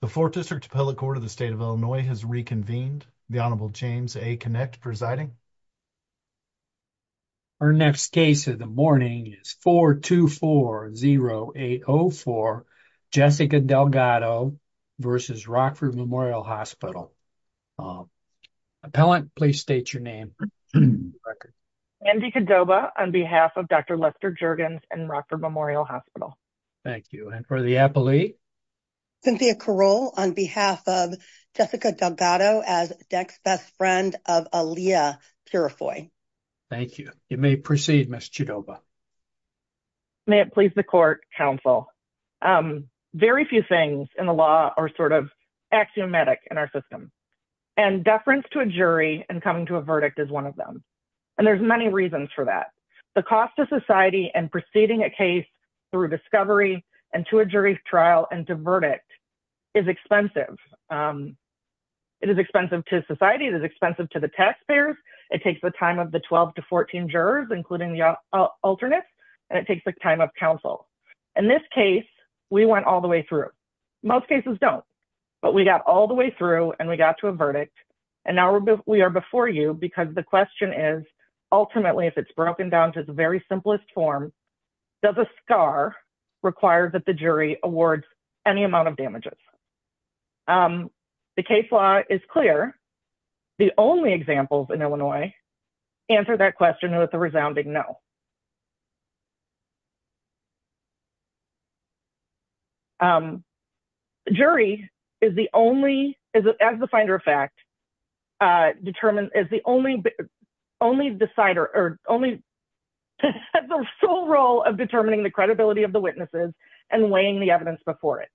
The 4th District Appellate Court of the State of Illinois has reconvened. The Honorable James A. Kinect presiding. Our next case of the morning is 424-0804 Jessica Delgado v. Rockford Memorial Hospital. Appellant, please state your name. Andy Cordova on behalf of Dr. Lester Jergens and Rockford Memorial Hospital. Thank you. And for the appellee? Cynthia Caroll on behalf of Jessica Delgado as DEC's best friend of Aaliyah Purifoy. Thank you. You may proceed, Ms. Chidova. Cynthia Caroll May it please the Court, Counsel. Very few things in the law are sort of axiomatic in our system. And deference to a jury and coming to a verdict is one of them. And there's many reasons for that. The cost to society and proceeding a case through discovery and to a jury trial and to verdict is expensive. It is expensive to society. It is expensive to the taxpayers. It takes the time of the 12 to 14 jurors, including the alternates, and it takes the time of counsel. In this case, we went all the way through. Most cases don't. But we got all the way through and we got to a verdict. And now we are before you because the question is, ultimately, if it's broken down to the very simplest form, does a scar require that the jury awards any amount of damages? The case law is clear. The only examples in Illinois answer that question with a resounding no. The jury is the only, as the finder of fact, is the only decider or only has the full role of determining the credibility of the witnesses and weighing the evidence before it.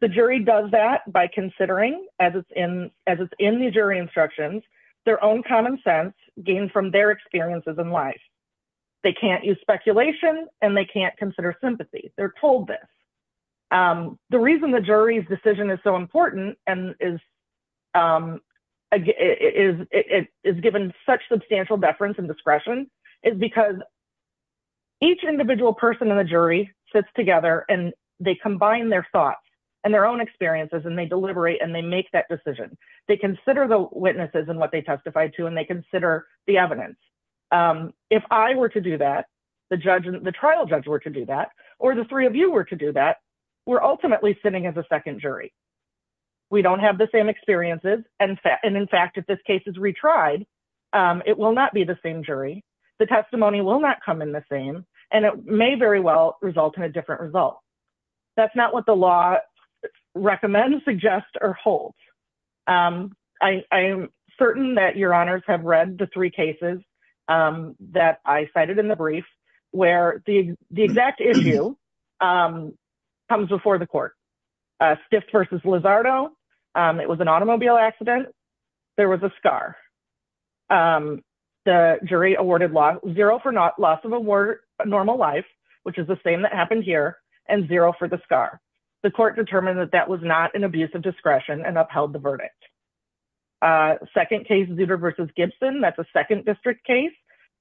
The jury does that by considering, as it's in the jury instructions, their own common sense gained from their experiences in life. They can't use speculation and they can't consider sympathy. They're told this. The reason the jury's decision is so important and is given such substantial deference and discretion is because each individual person in the jury sits together and they combine their thoughts and their own experiences and they deliberate and they make that decision. They consider the witnesses and what they testified to and they consider the evidence. If I were to do that, the trial judge were to do that, or the three of you were to do that, we're ultimately sitting as a second jury. We don't have the same experiences and, in fact, if this case is retried, it will not be the same jury, the testimony will not come in the same, and it may very well result in a different result. That's not what the law recommends, suggests, or holds. I am certain that your honors have read the three cases that I cited in the brief where the exact issue comes before the court. Skift versus Lizardo, it was an automobile accident. There was a scar. The jury awarded zero for loss of a normal life, which is the same that happened here, and zero for the scar. The court determined that that was not an abuse of discretion and upheld the verdict. Second case, Zutter versus Gibson, that's a second district case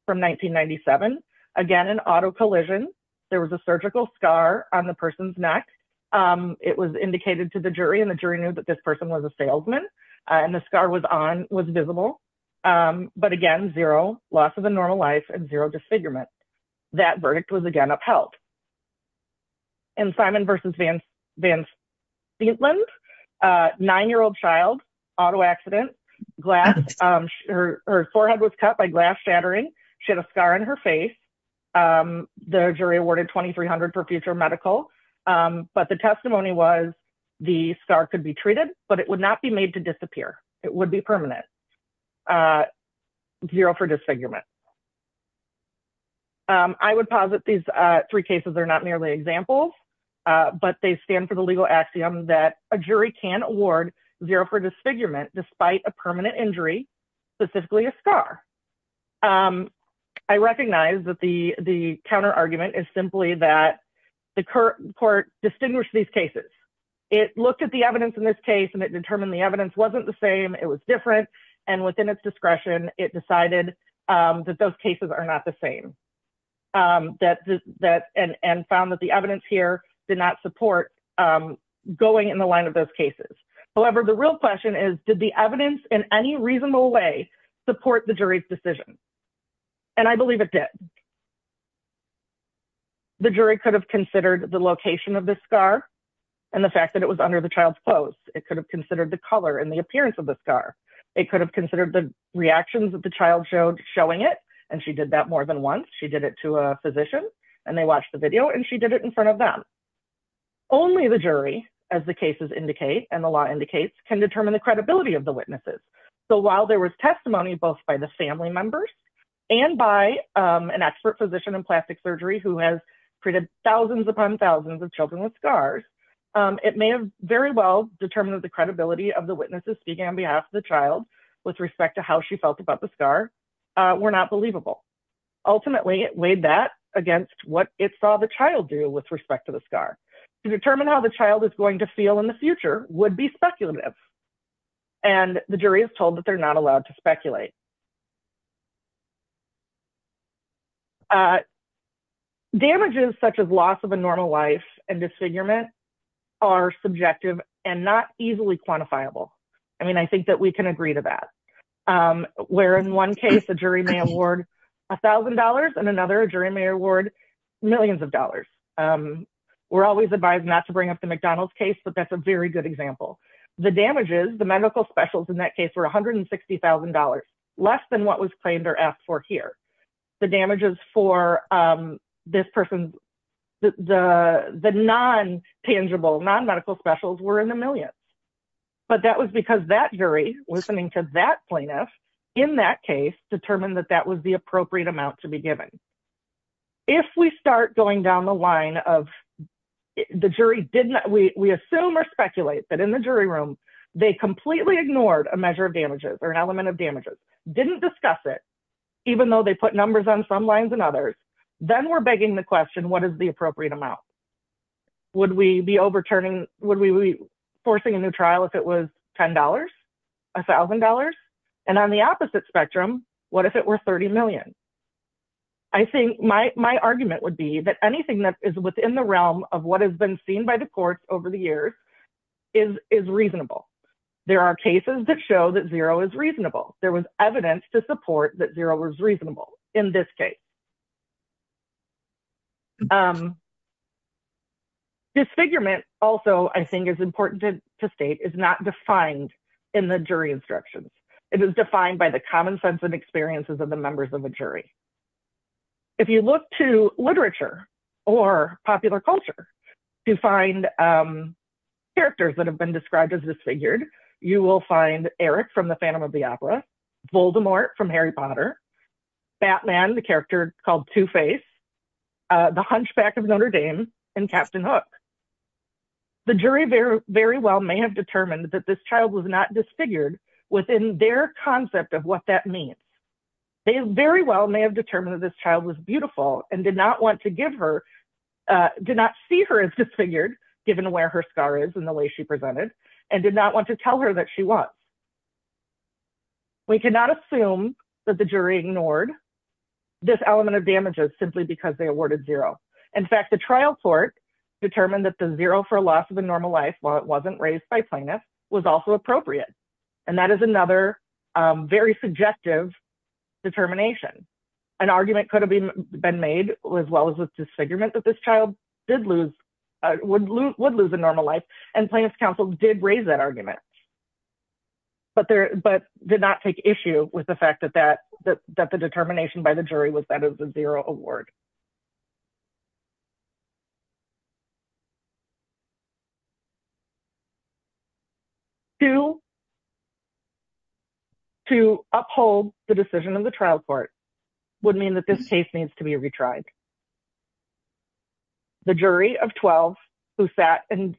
from 1997. Again, an auto collision. There was a surgical scar on the person's neck. It was indicated to the jury and the jury knew that this person was a salesman and the scar was on, was visible, but again, zero loss of a normal life and zero disfigurement. That verdict was again upheld. And Simon versus Van Steetland, a nine-year-old child, auto accident, her forehead was cut by glass shattering. She had a scar on her face. The jury awarded $2,300 for future medical, but the testimony was the scar could be treated, but it would not be made to disappear. It would be permanent. Zero for disfigurement. I would posit these three cases are not merely examples, but they stand for the legal axiom that a jury can award zero for disfigurement despite a permanent injury, specifically a I recognize that the counter argument is simply that the court distinguished these cases. It looked at the evidence in this case and it determined the evidence wasn't the same. It was different. And within its discretion, it decided that those cases are not the same and found that the evidence here did not support going in the line of those cases. However, the real question is, did the evidence in any reasonable way support the jury's decision? And I believe it did. The jury could have considered the location of the scar and the fact that it was under the child's clothes. It could have considered the color and the appearance of the scar. It could have considered the reactions that the child showed showing it. And she did that more than once. She did it to a physician and they watched the video and she did it in front of them. Only the jury, as the cases indicate and the law indicates, can determine the credibility of the witnesses. So while there was testimony, both by the family members and by an expert physician in plastic surgery who has treated thousands upon thousands of children with scars, it may have very well determined that the credibility of the witnesses speaking on behalf of the child with respect to how she felt about the scar were not believable. Ultimately, it weighed that against what it saw the child do with respect to the scar. To determine how the child is going to feel in the future would be speculative. And the jury is told that they're not allowed to speculate. Damages such as loss of a normal life and disfigurement are subjective and not easily quantifiable. I mean, I think that we can agree to that. Where in one case, the jury may award $1,000 and another jury may award millions of dollars. We're always advised not to bring up the McDonald's case, but that's a very good example. The damages, the medical specials in that case were $160,000. Less than what was claimed or asked for here. The damages for this person, the non-tangible, non-medical specials were in the millions. But that was because that jury, listening to that plaintiff in that case, determined that that was the appropriate amount to be given. If we start going down the line of the jury did not, we assume or speculate that in the jury they completely ignored a measure of damages or an element of damages, didn't discuss it, even though they put numbers on some lines and others, then we're begging the question, what is the appropriate amount? Would we be overturning, would we be forcing a new trial if it was $10, $1,000? And on the opposite spectrum, what if it were $30 million? I think my argument would be that anything that is within the realm of what has been seen by the courts over the years is reasonable. There are cases that show that zero is reasonable. There was evidence to support that zero was reasonable in this case. Disfigurement also, I think is important to state, is not defined in the jury instructions. It is defined by the common sense and experiences of the members of the jury. If you look to literature or popular culture to find characters that have been described as disfigured, you will find Eric from the Phantom of the Opera, Voldemort from Harry Potter, Batman, the character called Two-Face, The Hunchback of Notre Dame, and Captain Hook. The jury very well may have determined that this child was not disfigured within their concept of what that means. They very well may have determined that this child was beautiful and did not want to give her, did not see her as disfigured, given where her scar is and the way she presented, and did not want to tell her that she was. We cannot assume that the jury ignored this element of damages simply because they awarded zero. In fact, the trial court determined that the zero for loss of a normal life, while it wasn't raised by plaintiffs, was also appropriate. And that is another very subjective determination. An argument could have been made as well as a disfigurement that this child did lose, would lose a normal life, and plaintiff's counsel did raise that argument, but did not take issue with the fact that the determination by the jury was that of the zero award. To uphold the decision of the trial court would mean that this case needs to be retried. The jury of 12 who sat and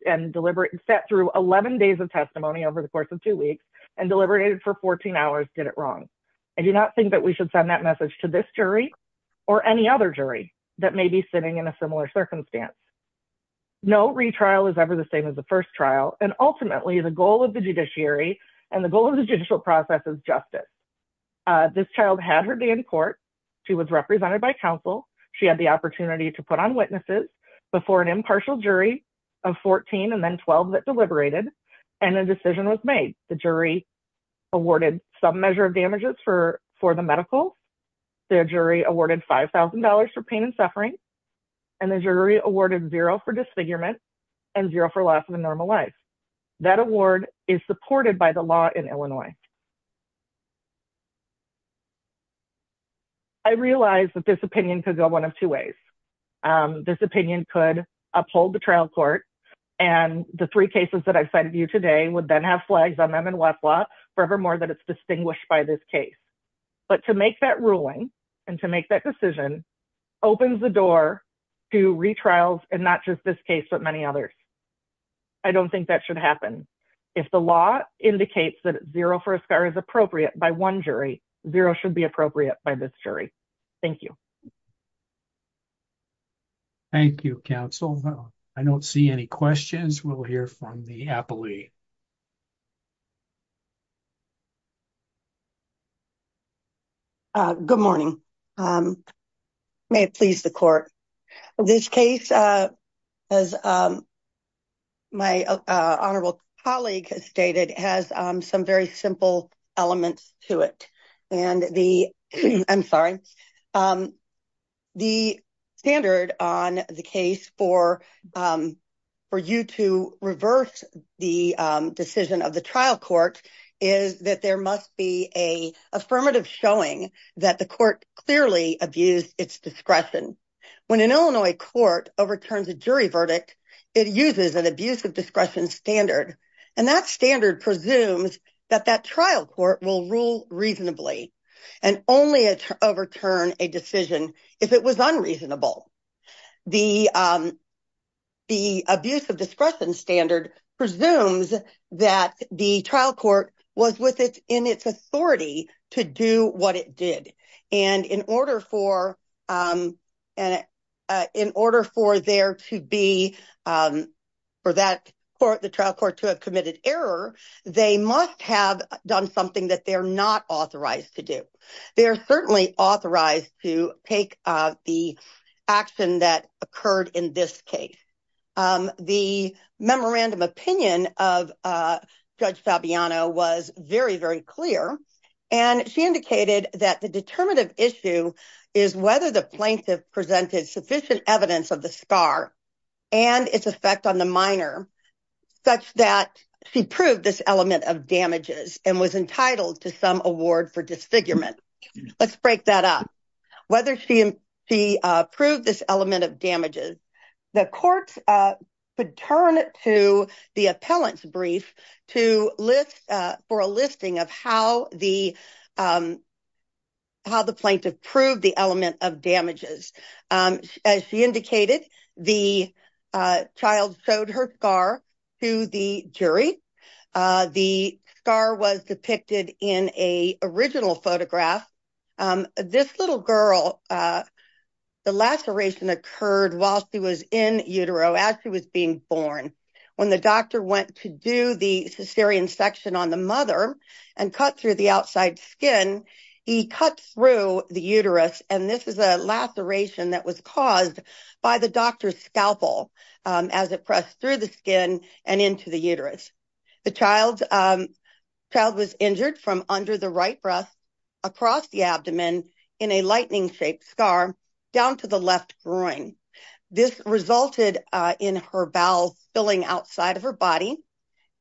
sat through 11 days of testimony over the course of two weeks and deliberated for 14 hours did it wrong. I do not think that we should send that message to this jury or any other jury that may be sitting in a similar circumstance. No retrial is ever the same as the first trial. And ultimately, the goal of the judiciary and the goal of the judicial process is justice. This child had her day in court. She was represented by counsel. She had the opportunity to put on witnesses before an impartial jury of 14 and then 12 that deliberated and a decision was made. The jury awarded some measure of damages for the medical. The jury awarded $5,000 for pain and suffering. And the jury awarded zero for disfigurement and zero for loss of a normal life. That award is supported by the law in Illinois. I realize that this opinion could go one of two ways. This opinion could uphold the trial court. And the three cases that I've cited you today would then have flags on them in Westlaw forevermore that it's distinguished by this case. But to make that ruling and to make that decision opens the door to retrials and not just this case, but many others. I don't think that should happen. If the law indicates that zero for a scar is appropriate by one jury, zero should be appropriate by this jury. Thank you. Thank you, counsel. I don't see any questions. We'll hear from the appellee. Good morning. May it please the court. This case, as my honorable colleague has stated, has some very simple elements to it. And the, I'm sorry, the standard on the case for you to reverse the decision of the trial court is that there must be a affirmative showing that the court clearly abused its discretion. When an Illinois court overturns a jury verdict, it uses an abuse of discretion standard. And that standard presumes that that trial court will rule reasonably and only overturn a decision if it was unreasonable. The abuse of discretion standard presumes that the trial court was with it in its authority to do what it did. And in order for there to be, for the trial court to have committed error, they must have done something that they're not authorized to do. They're certainly authorized to take the action that occurred in this case. The memorandum opinion of Judge Fabiano was very, very clear. And she indicated that the determinative issue is whether the plaintiff presented sufficient evidence of the scar and its effect on the minor such that she proved this element of damages and was entitled to some award for disfigurement. Let's break that up. Whether she proved this element of damages, the courts could turn to the appellant's brief to list for a listing of how the plaintiff proved the element of damages. As she indicated, the child showed her scar to the jury. The scar was depicted in a original photograph. This little girl, the laceration occurred while she was in utero, as she was being born. When the doctor went to do the cesarean section on the mother and cut through the outside skin, he cut through the uterus. And this is a laceration that was caused by the doctor's scalpel as it pressed through the skin and into the uterus. The child was injured from under the right breast, across the abdomen, in a lightning-shaped scar, down to the left groin. This resulted in her bowels spilling outside of her body.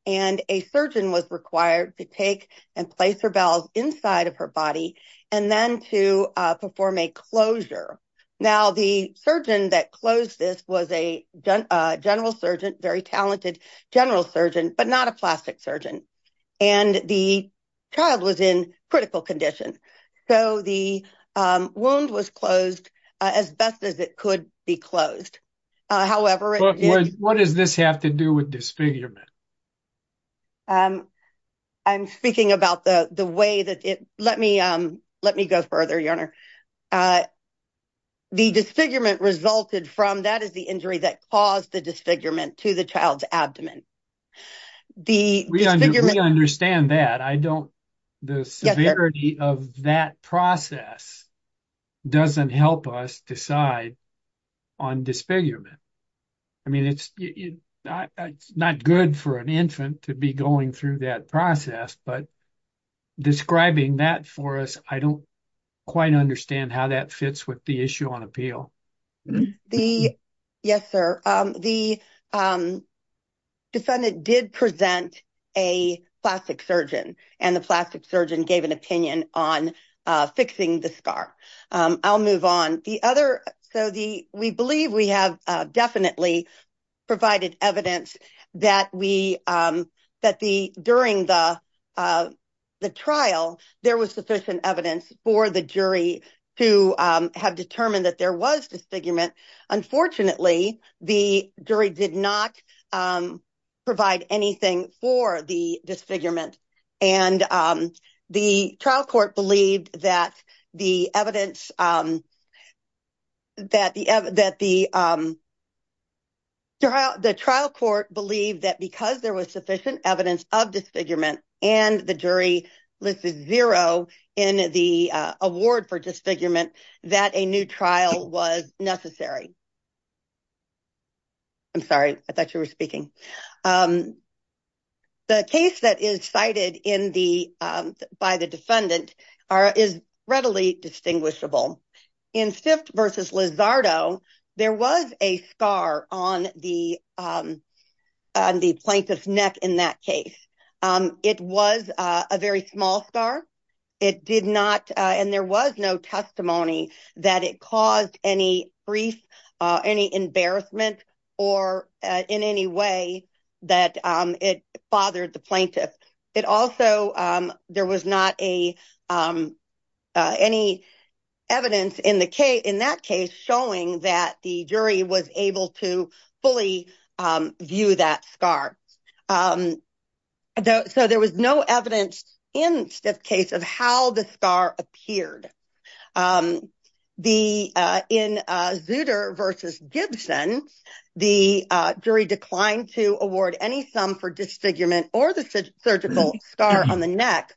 And a surgeon was required to take and place her bowels inside of her body and then to perform a closure. Now, the surgeon that closed this was a general surgeon, very talented general surgeon, but not a plastic surgeon. And the child was in critical condition. So the wound was closed as best as it could be closed. What does this have to do with disfigurement? I'm speaking about the way that it... Let me go further, your honor. The disfigurement resulted from... That is the injury that caused the disfigurement to the child's abdomen. We understand that. The severity of that process doesn't help us decide on disfigurement. I mean, it's not good for an infant to be going through that process, but describing that for us, I don't quite understand how that fits with the issue on appeal. The... Yes, sir. The defendant did present a plastic surgeon and the plastic surgeon gave an opinion on fixing the scar. I'll move on. The other... So we believe we have definitely provided evidence that we... That during the trial, there was sufficient evidence for the jury to have determined that there was disfigurement. Unfortunately, the jury did not provide anything for the disfigurement. And the trial court believed that the evidence... That the trial court believed that because there was sufficient evidence of disfigurement and the jury listed zero in the award for disfigurement, that a new trial was necessary. I'm sorry, I thought you were speaking. The case that is cited by the defendant is readily distinguishable. In Stift versus Lizardo, there was a scar on the plaintiff's neck in that case. It was a very small scar. It did not... And there was no testimony that it caused any grief, any embarrassment, or in any way that it bothered the plaintiff. It also... There was not any evidence in that case showing that the jury was able to fully view that scar. So there was no evidence in Stift case of how the scar appeared. In Zutter versus Gibson, the jury declined to award any sum for disfigurement or the surgical scar on the neck.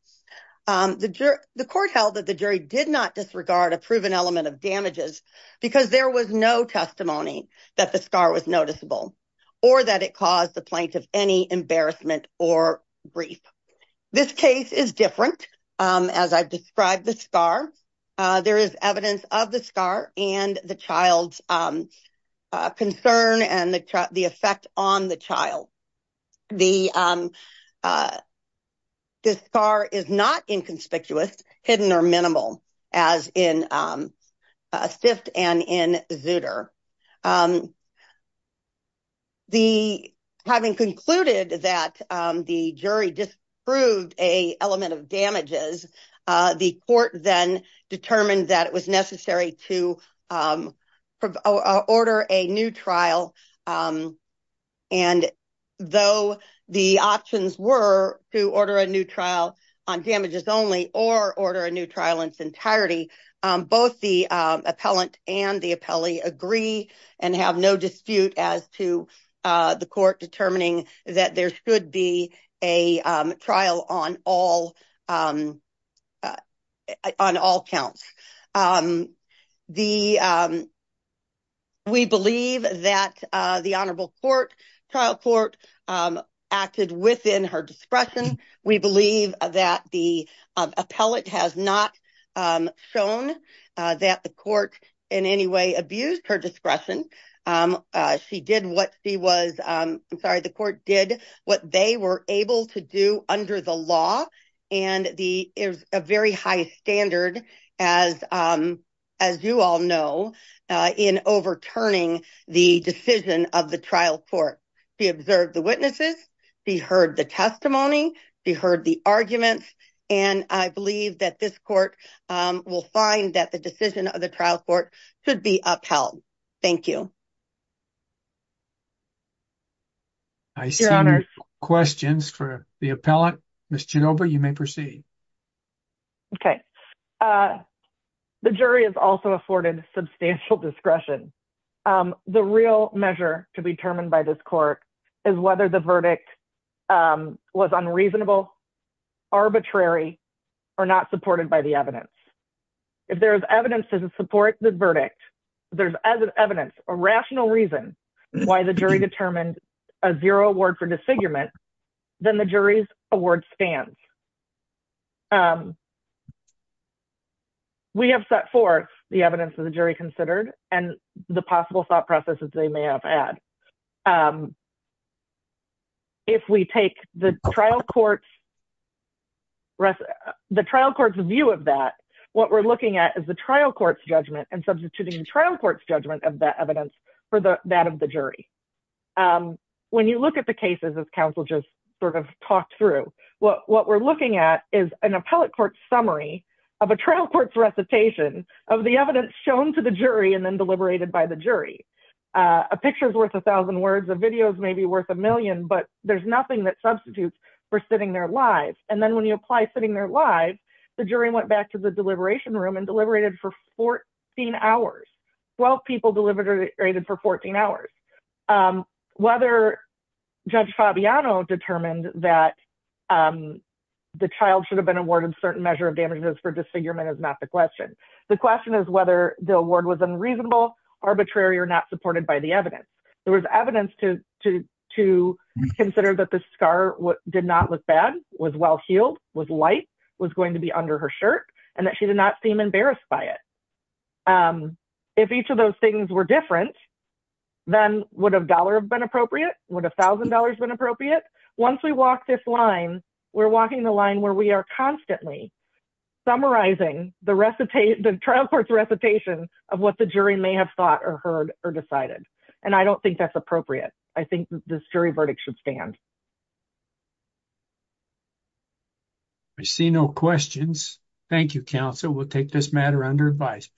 The court held that the jury did not disregard a proven element of damages because there was no testimony that the scar was noticeable or that it caused the plaintiff any embarrassment or grief. This case is different. As I've described the scar, there is evidence of the scar and the child's concern and the effect on the child. The scar is not inconspicuous, hidden or minimal, as in Stift and in Zutter. The... Having concluded that the jury disproved an element of damages, the court then determined that it was necessary to order a new trial. And though the options were to order a new trial on damages only or order a new trial in its entirety, both the appellant and the appellee agree and have no dispute as to the court determining that there should be a trial on all counts. We believe that the Honorable Trial Court acted within her discretion. We believe that the appellate has not shown that the court in any way abused her discretion. She did what she was... The court did what they were able to do under the law. And there's a very high standard, as you all know, in overturning the decision of the trial court. She observed the witnesses. She heard the testimony. She heard the arguments. And I believe that this court will find that the decision of the trial court should be upheld. Thank you. I see questions for the appellant. Ms. Genova, you may proceed. Okay. The jury has also afforded substantial discretion. The real measure to be determined by this court is whether the verdict was unreasonable, arbitrary, or not supported by the evidence. If there is evidence to support the verdict, there's as evidence a rational reason why the jury determined a zero award for disfigurement, then the jury's award stands. We have set forth the evidence of the jury considered and the possible thought processes they may have had. And if we take the trial court's view of that, what we're looking at is the trial court's judgment and substituting the trial court's judgment of that evidence for that of the jury. When you look at the cases as counsel just sort of talked through, what we're looking at is an appellate court summary of a trial court's recitation of the evidence shown to the jury and then deliberated by the jury. A picture is worth a thousand words, a video is maybe worth a million, but there's nothing that substitutes for sitting there live. And then when you apply sitting there live, the jury went back to the deliberation room and deliberated for 14 hours. 12 people deliberated for 14 hours. Whether Judge Fabiano determined that the child should have been awarded a certain measure of damages for disfigurement is not the question. The question is whether the award was unreasonable, arbitrary or not supported by the evidence. There was evidence to consider that the scar did not look bad, was well-heeled, was light, was going to be under her shirt and that she did not seem embarrassed by it. If each of those things were different, then would a dollar have been appropriate? Would a thousand dollars been appropriate? Once we walk this line, we're walking the line where we are constantly summarizing the trial court's recitation of what the jury may have thought or heard or decided. And I don't think that's appropriate. I think this jury verdict should stand. I see no questions. Thank you, counsel. We'll take this matter under advice.